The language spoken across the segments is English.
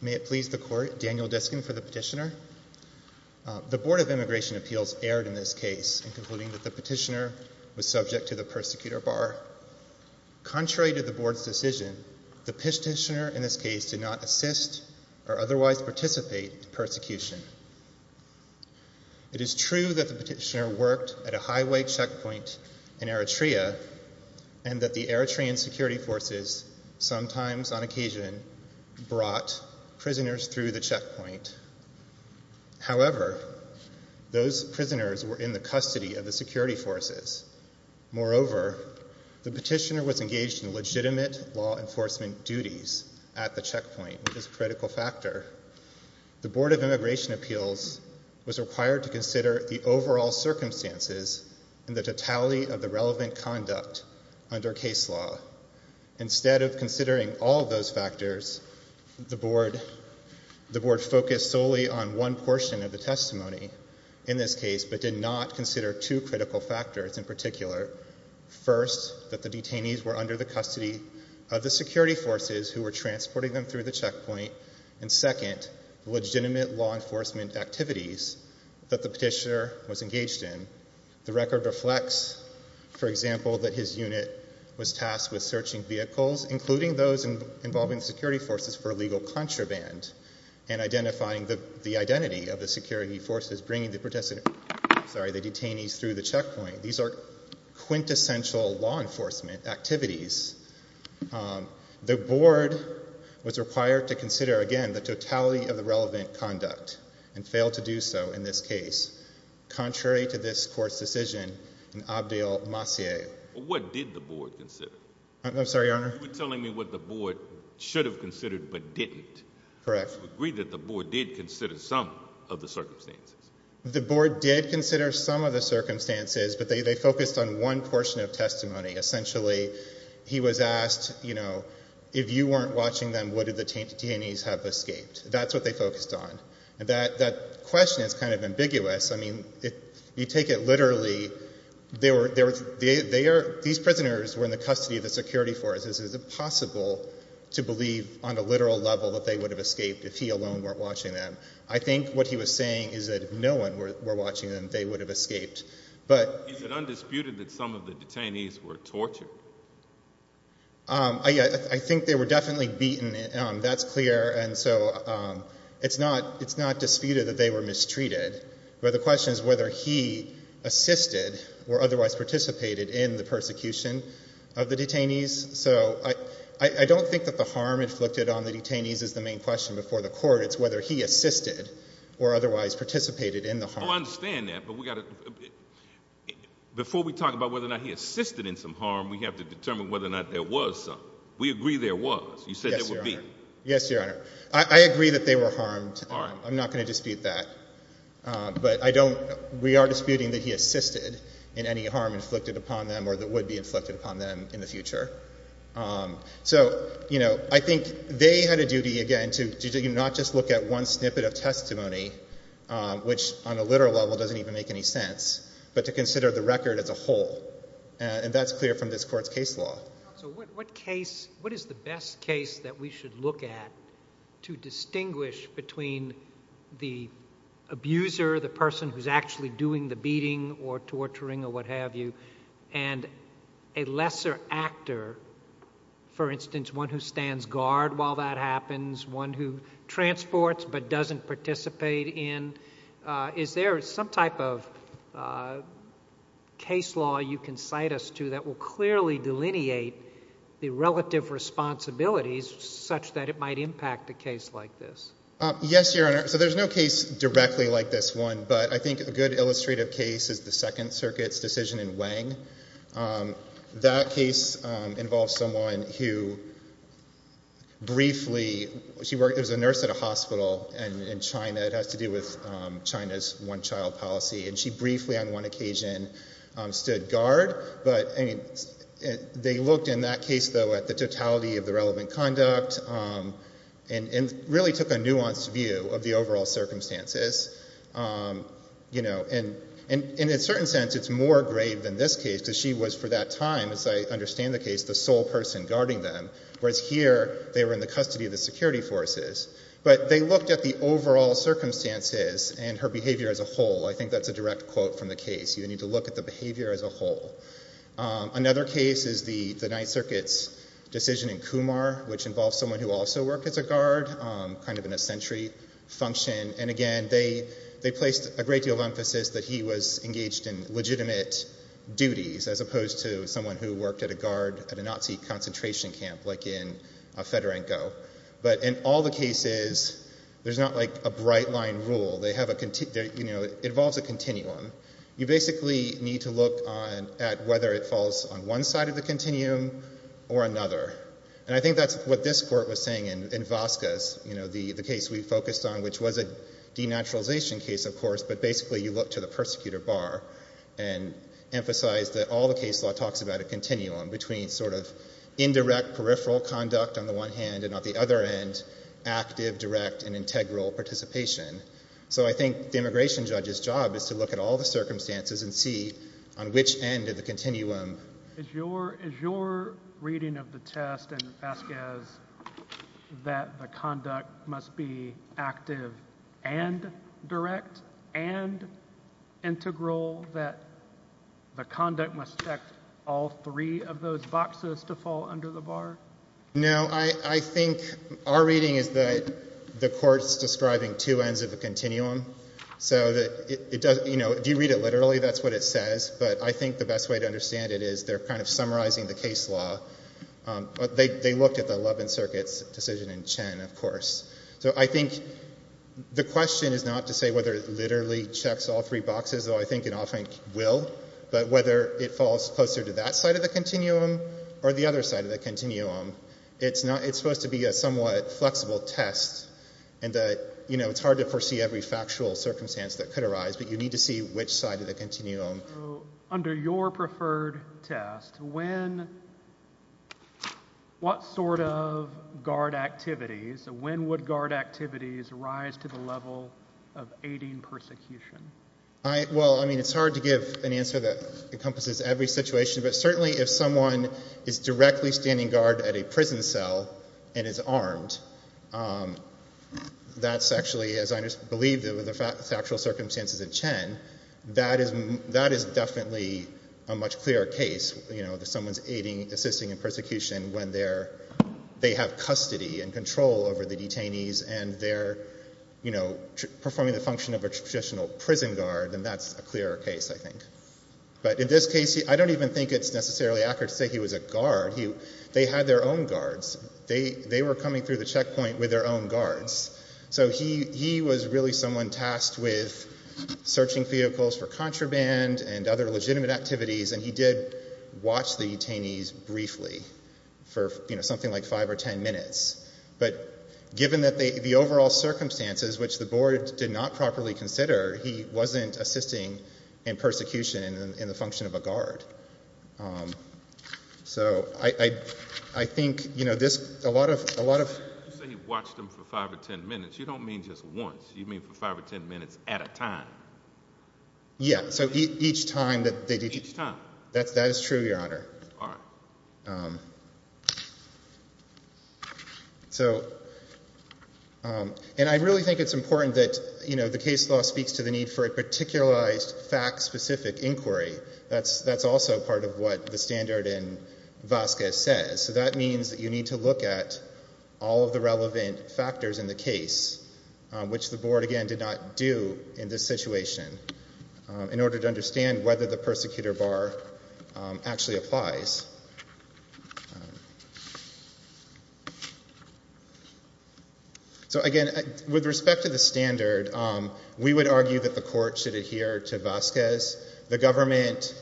May it please the Court, Daniel Diskin for the Petitioner. The Board of Immigration Appeals erred in this case in concluding that the petitioner was subject to the persecutor bar. Contrary to the Board's decision, the petitioner in this case did not assist or otherwise participate in persecution. It is true that the petitioner worked at a highway checkpoint in Eritrea, and that the Eritrean security forces sometimes, on occasion, brought prisoners through the checkpoint. However, those prisoners were in the custody of the security forces. Moreover, the petitioner was engaged in legitimate law enforcement duties at the checkpoint, which is a critical factor. The Board of Immigration Appeals was required to consider the overall circumstances and the totality of the relevant conduct under case law. Instead of considering all of those factors, the Board focused solely on one portion of the testimony in this case, but did not consider two critical factors in particular. First, that the detainees were under the custody of the security forces who were transporting them through the checkpoint, and second, the legitimate law enforcement activities that the petitioner was engaged in. The record reflects, for example, that his unit was tasked with searching vehicles, including those involving the security forces for illegal contraband, and identifying the identity of the security forces bringing the detainees through the checkpoint. These are quintessential law enforcement activities. The Board was required to consider, again, the totality of the relevant conduct, and failed to do so in this case, contrary to this Court's decision in Abdel Masih. What did the Board consider? I'm sorry, Your Honor? You were telling me what the Board should have considered but didn't. Correct. You agreed that the Board did consider some of the circumstances. The Board did consider some of the circumstances, but they focused on one portion of testimony. Essentially, he was asked, you know, if you weren't watching them, would the detainees have escaped? That's what they focused on. That question is kind of ambiguous. I mean, if you take it literally, these prisoners were in the custody of the security forces. Is it possible to believe on a literal level that they would have escaped if he alone weren't watching them? I think what he was saying is that if no one were watching them, they would have escaped. Is it undisputed that some of the detainees were tortured? I think they were definitely beaten. That's clear. And so, it's not disputed that they were mistreated, but the question is whether he assisted or otherwise participated in the persecution of the detainees. So I don't think that the harm inflicted on the detainees is the main question before the Court. It's whether he assisted or otherwise participated in the harm. I understand that, but before we talk about whether or not he assisted in some harm, we have to determine whether or not there was some. We agree there was. You said there would be. Yes, Your Honor. Yes, Your Honor. I agree that they were harmed. I'm not going to dispute that, but we are disputing that he assisted in any harm inflicted upon them or that would be inflicted upon them in the future. So I think they had a duty, again, to not just look at one snippet of testimony, which on a literal level doesn't even make any sense, but to consider the record as a whole. And that's clear from this Court's case law. So what case, what is the best case that we should look at to distinguish between the abuser, the person who's actually doing the beating or torturing or what have you, and a lesser actor, for instance, one who stands guard while that happens, one who transports but doesn't participate in? Is there some type of case law you can cite us to that will clearly delineate the relative responsibilities such that it might impact a case like this? Yes, Your Honor. So there's no case directly like this one, but I think a good illustrative case is the Second Circuit's decision in Wang. That case involves someone who briefly—she worked as a nurse at a hospital in China. It has to do with China's one-child policy. And she briefly on one occasion stood guard. But they looked in that case, though, at the totality of the relevant conduct and really took a nuanced view of the overall circumstances. You know, and in a certain sense, it's more grave than this case because she was for that time, as I understand the case, the sole person guarding them, whereas here they were in the custody of the security forces. But they looked at the overall circumstances and her behavior as a whole. I think that's a direct quote from the case. You need to look at the behavior as a whole. Another case is the Ninth Circuit's decision in Kumar, which involves someone who also worked as a guard, kind of in a sentry function. And again, they placed a great deal of emphasis that he was engaged in legitimate duties as opposed to someone who worked at a guard at a Nazi concentration camp, like in Fedorenko. But in all the cases, there's not like a bright-line rule. They have a—you know, it involves a continuum. You basically need to look at whether it falls on one side of the continuum or another. And I think that's what this Court was saying in Vazquez, you know, the case we focused on, which was a denaturalization case, of course, but basically you look to the persecutor bar and emphasize that all the case law talks about a continuum between sort of indirect peripheral conduct on the one hand, and on the other end, active, direct, and integral participation. So I think the immigration judge's job is to look at all the circumstances and see on which end of the continuum— No, I think our reading is that the Court's describing two ends of a continuum, so that it doesn't—you know, if you read it literally, that's what it says, but I think the best way to understand it is they're kind of summarizing the case law, but they looked at the Eleventh Circuit's decision in Chen, of course. So I think the question is not to say whether it literally checks all three boxes, though I think it often will, but whether it falls closer to that side of the continuum or the other side of the continuum. It's not—it's supposed to be a somewhat flexible test in that, you know, it's hard to foresee every factual circumstance that could arise, but you need to see which side of the continuum. So under your preferred test, when—what sort of guard activities, when would guard activities rise to the level of aiding persecution? Well, I mean, it's hard to give an answer that encompasses every situation, but certainly if someone is directly standing guard at a prison cell and is armed, that's actually, as I believe the factual circumstances in Chen, that is definitely a much clearer case, you know, that someone's aiding, assisting in persecution when they're—they have custody and control over the detainees and they're, you know, performing the function of a traditional prison guard, then that's a clearer case, I think. But in this case, I don't even think it's necessarily accurate to say he was a guard. They had their own guards. They were coming through the checkpoint with their own guards. So he was really someone tasked with searching vehicles for contraband and other legitimate activities and he did watch the detainees briefly for, you know, something like five or ten minutes. But given that the overall circumstances, which the board did not properly consider, he wasn't assisting in persecution in the function of a guard. So I think, you know, this—a lot of— You say he watched them for five or ten minutes. You don't mean just once. You mean for five or ten minutes at a time. Yeah. So each time that they did— Each time. That is true, Your Honor. All right. So—and I really think it's important that, you know, the case law speaks to the need for a particularized, fact-specific inquiry. That's also part of what the standard in Vasquez says. So that means that you need to look at all of the relevant factors in the case, which the board, again, did not do in this situation, in order to understand whether the persecutor bar actually applies. So again, with respect to the standard, we would argue that the court should adhere to Vasquez. The government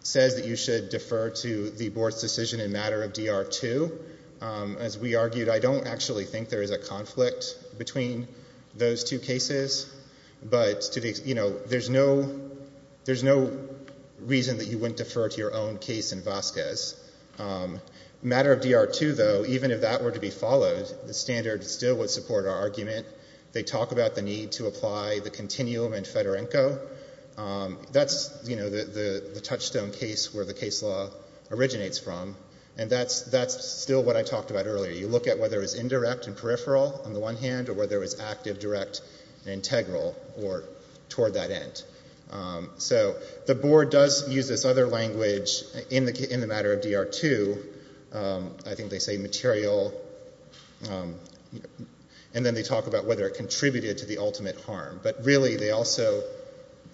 says that you should defer to the board's decision in matter of D.R. 2. As we argued, I don't actually think there is a conflict between those two cases. But, you know, there's no reason that you wouldn't defer to your own case in Vasquez. Matter of D.R. 2, though, even if that were to be followed, the standard still would support our argument. They talk about the need to apply the continuum in Fedorenko. That's, you know, the touchstone case where the case law originates from. And that's still what I talked about earlier. You look at whether it's indirect and peripheral on the one hand, or whether it's active, direct, and integral, or toward that end. So the board does use this other language in the matter of D.R. 2. I think they say material, and then they talk about whether it contributed to the ultimate harm. But really, they also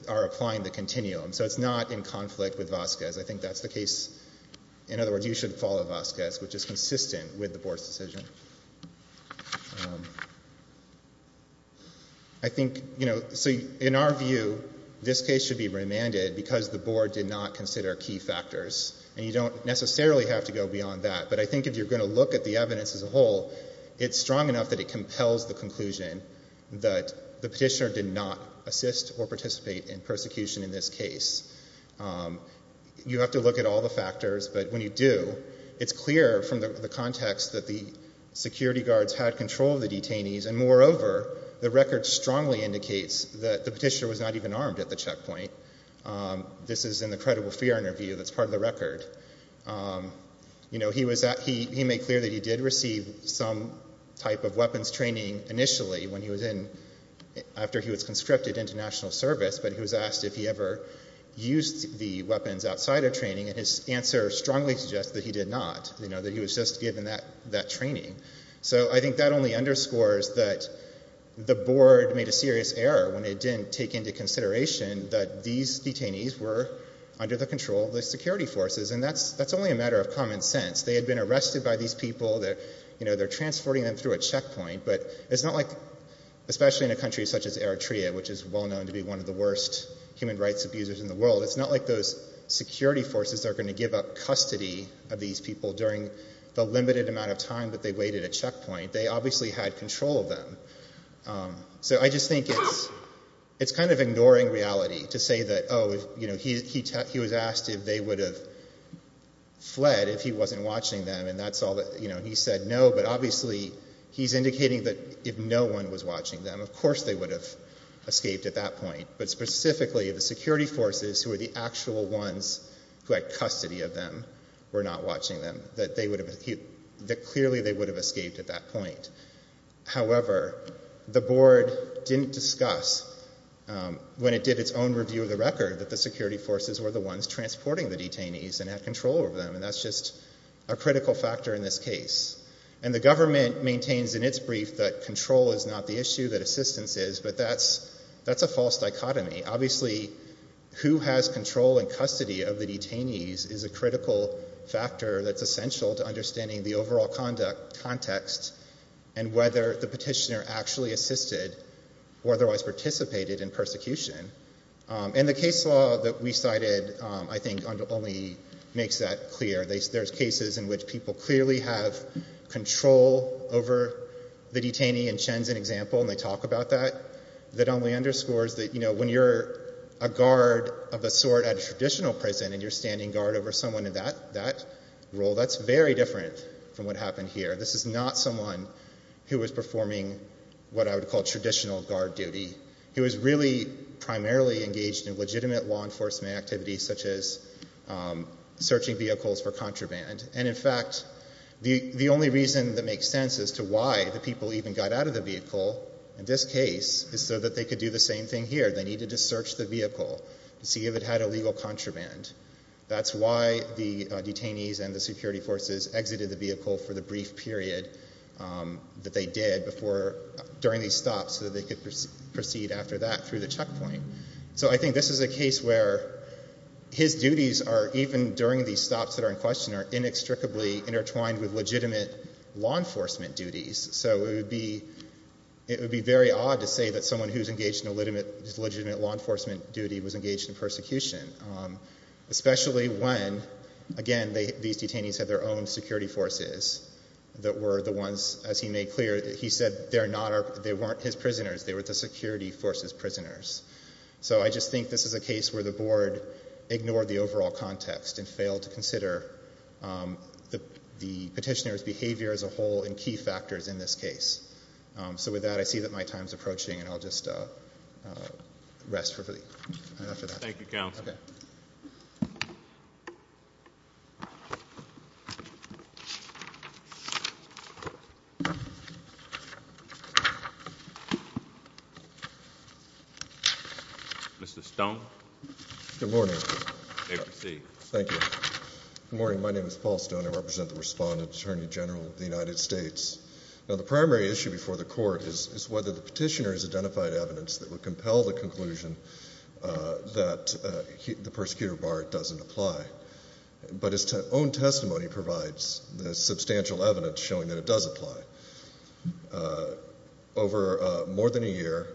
are applying the continuum. So it's not in conflict with Vasquez. I think that's the case. In other words, you should follow Vasquez, which is consistent with the board's decision. I think, you know, so in our view, this case should be remanded because the board did not consider key factors. And you don't necessarily have to go beyond that. But I think if you're going to look at the evidence as a whole, it's strong enough that it compels the conclusion that the petitioner did not assist or participate in persecution in this case. You have to look at all the factors. But when you do, it's clear from the context that the security guards had control of the detainees. And moreover, the record strongly indicates that the petitioner was not even armed at the checkpoint. This is in the credible fear interview that's part of the record. You know, he was at, he made clear that he did receive some type of weapons training initially when he was in, after he was conscripted into national service. But he was asked if he ever used the weapons outside of training. And his answer strongly suggests that he did not. You know, that he was just given that training. So I think that only underscores that the board made a serious error when it didn't take into consideration that these detainees were under the control of the security forces. And that's only a matter of common sense. They had been arrested by these people. You know, they're transporting them through a checkpoint. But it's not like, especially in a country such as Eritrea, which is well known to be one of the worst human rights abusers in the world, it's not like those security forces are going to give up custody of these people during the limited amount of time that they waited at checkpoint. They obviously had control of them. So I just think it's, it's kind of ignoring reality to say that, oh, you know, he was asked if they would have fled if he wasn't watching them. And that's all that, you know, he said no. But obviously he's indicating that if no one was watching them, of course they would have escaped at that point. But specifically the security forces who are the actual ones who had custody of them were not watching them. That they would have, that clearly they would have escaped at that point. However, the board didn't discuss when it did its own review of the record that the security forces were the ones transporting the detainees and had control over them. And that's just a critical factor in this case. And the government maintains in its brief that control is not the issue, that assistance is, but that's, that's a false dichotomy. Obviously who has control and custody of the detainees is a critical factor that's in the overall conduct context and whether the petitioner actually assisted or otherwise participated in persecution. And the case law that we cited I think only makes that clear. There's cases in which people clearly have control over the detainee and Chen's an example and they talk about that. That only underscores that, you know, when you're a guard of a sort at a traditional prison and you're standing guard over someone in that, that role, that's very different from what happened here. This is not someone who was performing what I would call traditional guard duty. He was really primarily engaged in legitimate law enforcement activities such as searching vehicles for contraband. And in fact, the only reason that makes sense as to why the people even got out of the vehicle in this case is so that they could do the same thing here. They needed to search the vehicle to see if it had illegal contraband. That's why the detainees and the security forces exited the vehicle for the brief period that they did before, during these stops so that they could proceed after that through the checkpoint. So I think this is a case where his duties are even during these stops that are in question are inextricably intertwined with legitimate law enforcement duties. So it would be, it would be very odd to say that someone who's engaged in legitimate law enforcement duty was engaged in persecution. Especially when, again, these detainees had their own security forces that were the ones, as he made clear, he said they're not, they weren't his prisoners. They were the security force's prisoners. So I just think this is a case where the board ignored the overall context and failed to consider the petitioner's behavior as a whole and key factors in this case. So with that, I see that my time's approaching and I'll just rest for the, after that. Thank you, counsel. Mr. Stone. Good morning. You may proceed. Thank you. Good morning. My name is Paul Stone. I represent the Respondent Attorney General of the United States. Now the primary issue before the court is whether the petitioner has identified evidence that would compel the conclusion that the persecutor bar doesn't apply. But his own testimony provides substantial evidence showing that it does apply. Over more than a year,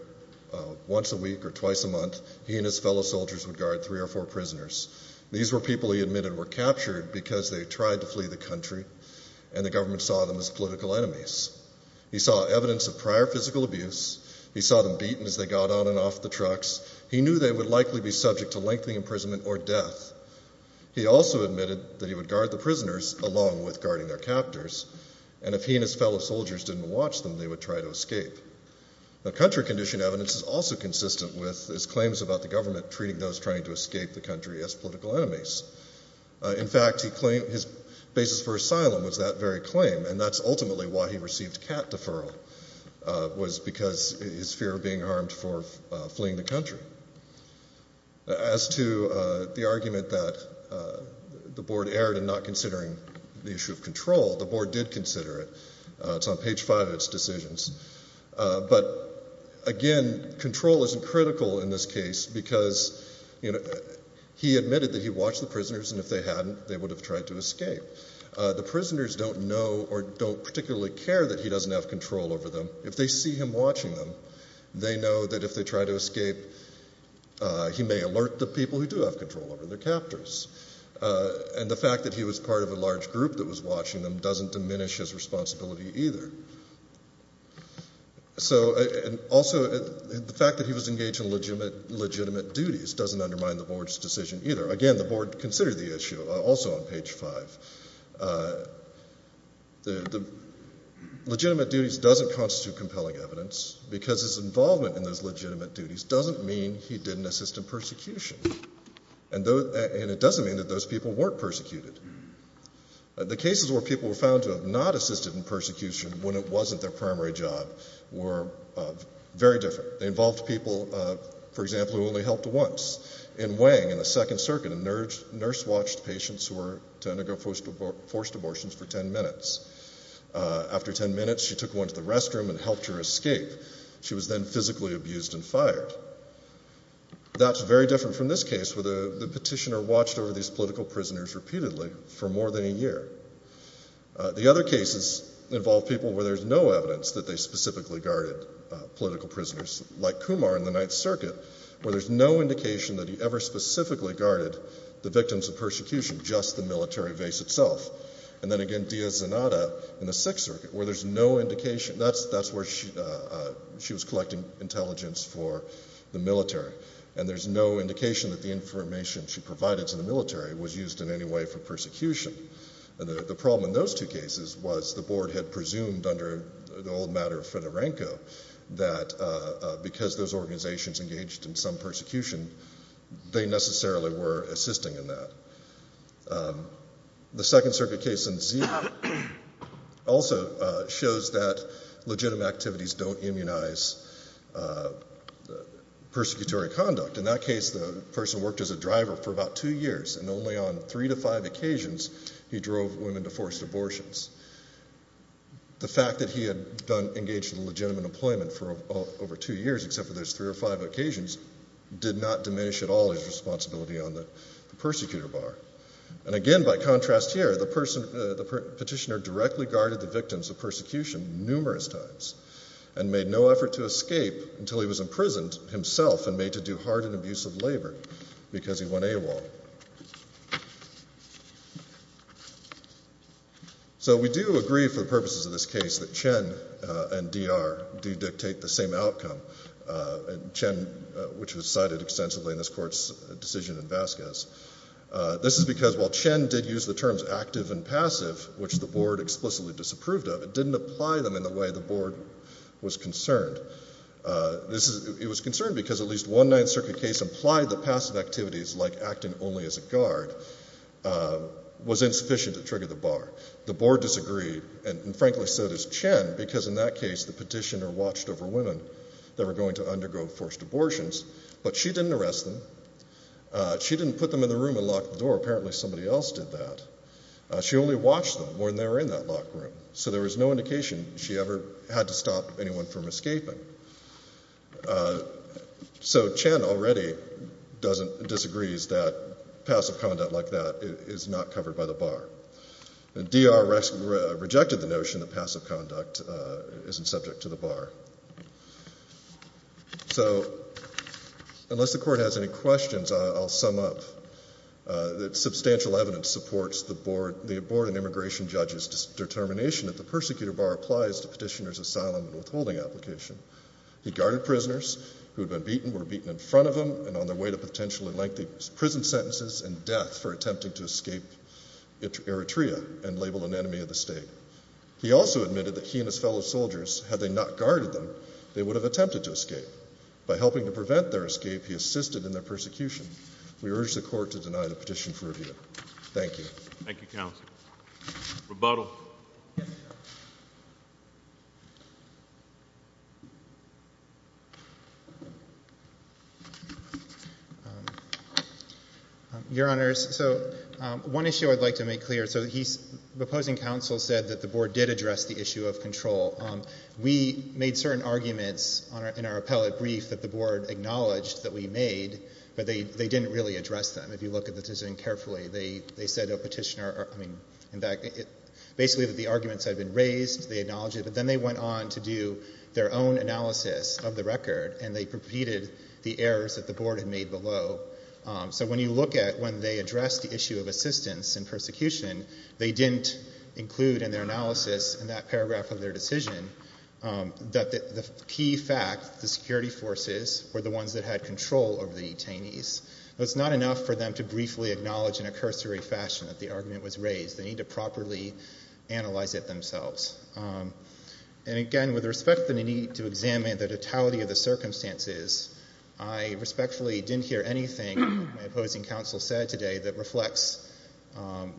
once a week or twice a month, he and his fellow soldiers would guard three or four prisoners. These were people he admitted were captured because they tried to flee the country and the government saw them as political enemies. He saw evidence of prior physical abuse. He saw them beaten as they got on and off the trucks. He knew they would likely be subject to lengthy imprisonment or death. He also admitted that he would guard the prisoners along with guarding their captors and if he and his fellow soldiers didn't watch them, they would try to escape. Now country condition evidence is also consistent with his claims about the government treating those trying to escape the country as political enemies. In fact, he claimed his basis for asylum was that very claim and that's ultimately why he received cat deferral was because his fear of being harmed for fleeing the country. As to the argument that the board erred in not considering the issue of control, the board did consider it. It's on page five of its decisions. But again, control isn't critical in this case because he admitted that he watched the prisoners and if they hadn't, they would have tried to escape. The prisoners don't know or don't particularly care that he doesn't have control over them. If they see him watching them, they know that if they try to escape, he may alert the people who do have control over their captors. And the fact that he was part of a large group that was watching them doesn't diminish his responsibility either. So, and also the fact that he was engaged in legitimate duties doesn't undermine the board's decision either. Again, the board considered the issue also on page five. Legitimate duties doesn't constitute compelling evidence because his involvement in those legitimate duties doesn't mean he didn't assist in persecution. And it doesn't mean that those people weren't persecuted. The cases where people were found to have not assisted in persecution when it wasn't their primary job were very different. They involved people, for example, who only helped once. In Wang, in the Second Circuit, a nurse watched patients who were to undergo forced abortions for ten minutes. After ten minutes, she took one to the restroom and helped her escape. She was then physically abused and fired. That's very different from this case where the petitioner watched over these political prisoners repeatedly for more than a year. The other cases involved people where there's no evidence that they specifically guarded political prisoners. Like Kumar in the Ninth Circuit, where there's no indication that he ever specifically guarded the victims of persecution, just the military base itself. And then again, Diaz-Zanada in the Sixth Circuit, where there's no indication... That's where she was collecting intelligence for the military. And there's no indication that the information she provided to the military was used in any way for persecution. The problem in those two cases was the board had presumed under the old matter of Fedorenko, that because those organisations engaged in some persecution, they necessarily were assisting in that. The Second Circuit case in Zimbabwe also shows that legitimate activities don't immunise persecutory conduct. In that case, the person worked as a driver for about two years and only on three to five occasions he drove women to forced abortions. The fact that he had engaged in legitimate employment for over two years, except for those three or five occasions, did not diminish at all his responsibility on the persecutor bar. And again, by contrast here, the petitioner directly guarded the victims of persecution numerous times and made no effort to escape until he was imprisoned himself and made to do hard and abusive labour because he won AWOL. So we do agree for the purposes of this case that Chen and D.R. do dictate the same outcome. Chen, which was cited extensively in this court's decision in Vasquez. This is because while Chen did use the terms active and passive, which the board explicitly disapproved of, it didn't apply them in the way the board was concerned. It was concerned because at least one Ninth Circuit case implied that passive activities like acting openly and only as a guard was insufficient to trigger the bar. The board disagreed, and frankly so does Chen, because in that case the petitioner watched over women that were going to undergo forced abortions, but she didn't arrest them. She didn't put them in the room and lock the door. Apparently somebody else did that. She only watched them when they were in that locked room. So there was no indication she ever had to stop anyone from escaping. So Chen already disagrees that passive conduct like that is not covered by the bar. D.R. rejected the notion that passive conduct isn't subject to the bar. So unless the court has any questions, I'll sum up that substantial evidence supports the board and immigration judge's determination that the persecutor bar applies to petitioner's asylum and withholding application. He guarded prisoners who had been beaten, were beaten in front of them and on their way to potential and lengthy prison sentences and death for attempting to escape Eritrea and labeled an enemy of the state. He also admitted that he and his fellow soldiers, had they not guarded them, they would have attempted to escape. By helping to prevent their escape, he assisted in their persecution. We urge the court to deny the petition for review. Thank you. Thank you, counsel. Rebuttal. Your honors, so one issue I'd like to make clear. So the opposing counsel said that the board did address the issue of control. We made certain arguments in our appellate brief that the board acknowledged that we made, but they didn't really address them. If you look at the petition carefully, they said a petitioner, I mean, in fact, basically that the arguments had been raised, they acknowledged it, but then they went on to do their own analysis of the petition. They did their own analysis of the record and they repeated the errors that the board had made below. So when you look at when they addressed the issue of assistance in persecution, they didn't include in their analysis in that paragraph of their decision that the key fact, the security forces were the ones that had control over the detainees. It's not enough for them to briefly acknowledge in a cursory fashion that the argument was raised. They need to properly analyze it themselves. And again, with respect to the need to examine the totality of the circumstances, I respectfully didn't hear anything my opposing counsel said today that reflects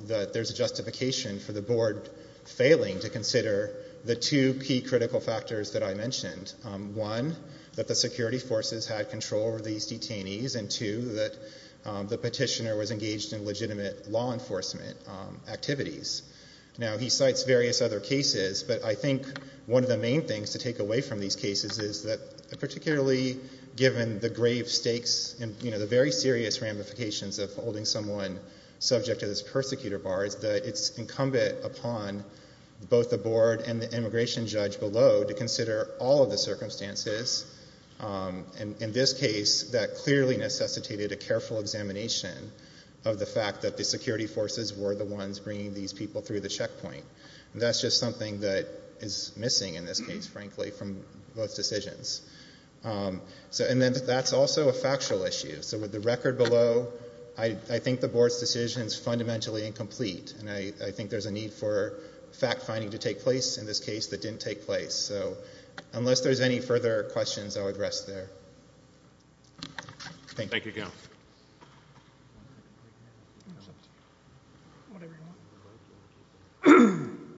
that there's a justification for the board failing to consider the two key critical factors that I mentioned. One, that the security forces had control over these detainees and two, that the petitioner was engaged in legitimate law enforcement activities. Now, he cites various other cases, but I think one of the main things to take away from these cases is that particularly given the grave stakes and the very serious ramifications of holding someone subject to this persecutor bar, it's incumbent upon both the board and the immigration judge below to consider all of the circumstances. In this case, that clearly necessitated a careful examination of the fact that the security forces were the ones bringing these people through the checkpoint. And that's just something that is missing in this case, frankly, from both decisions. And then that's also a factual issue. So with the record below, I think the board's decision is fundamentally incomplete and I think there's a need for fact-finding to take place in this case that didn't take place. So unless there's any further questions, I would rest there. Thank you. Thank you.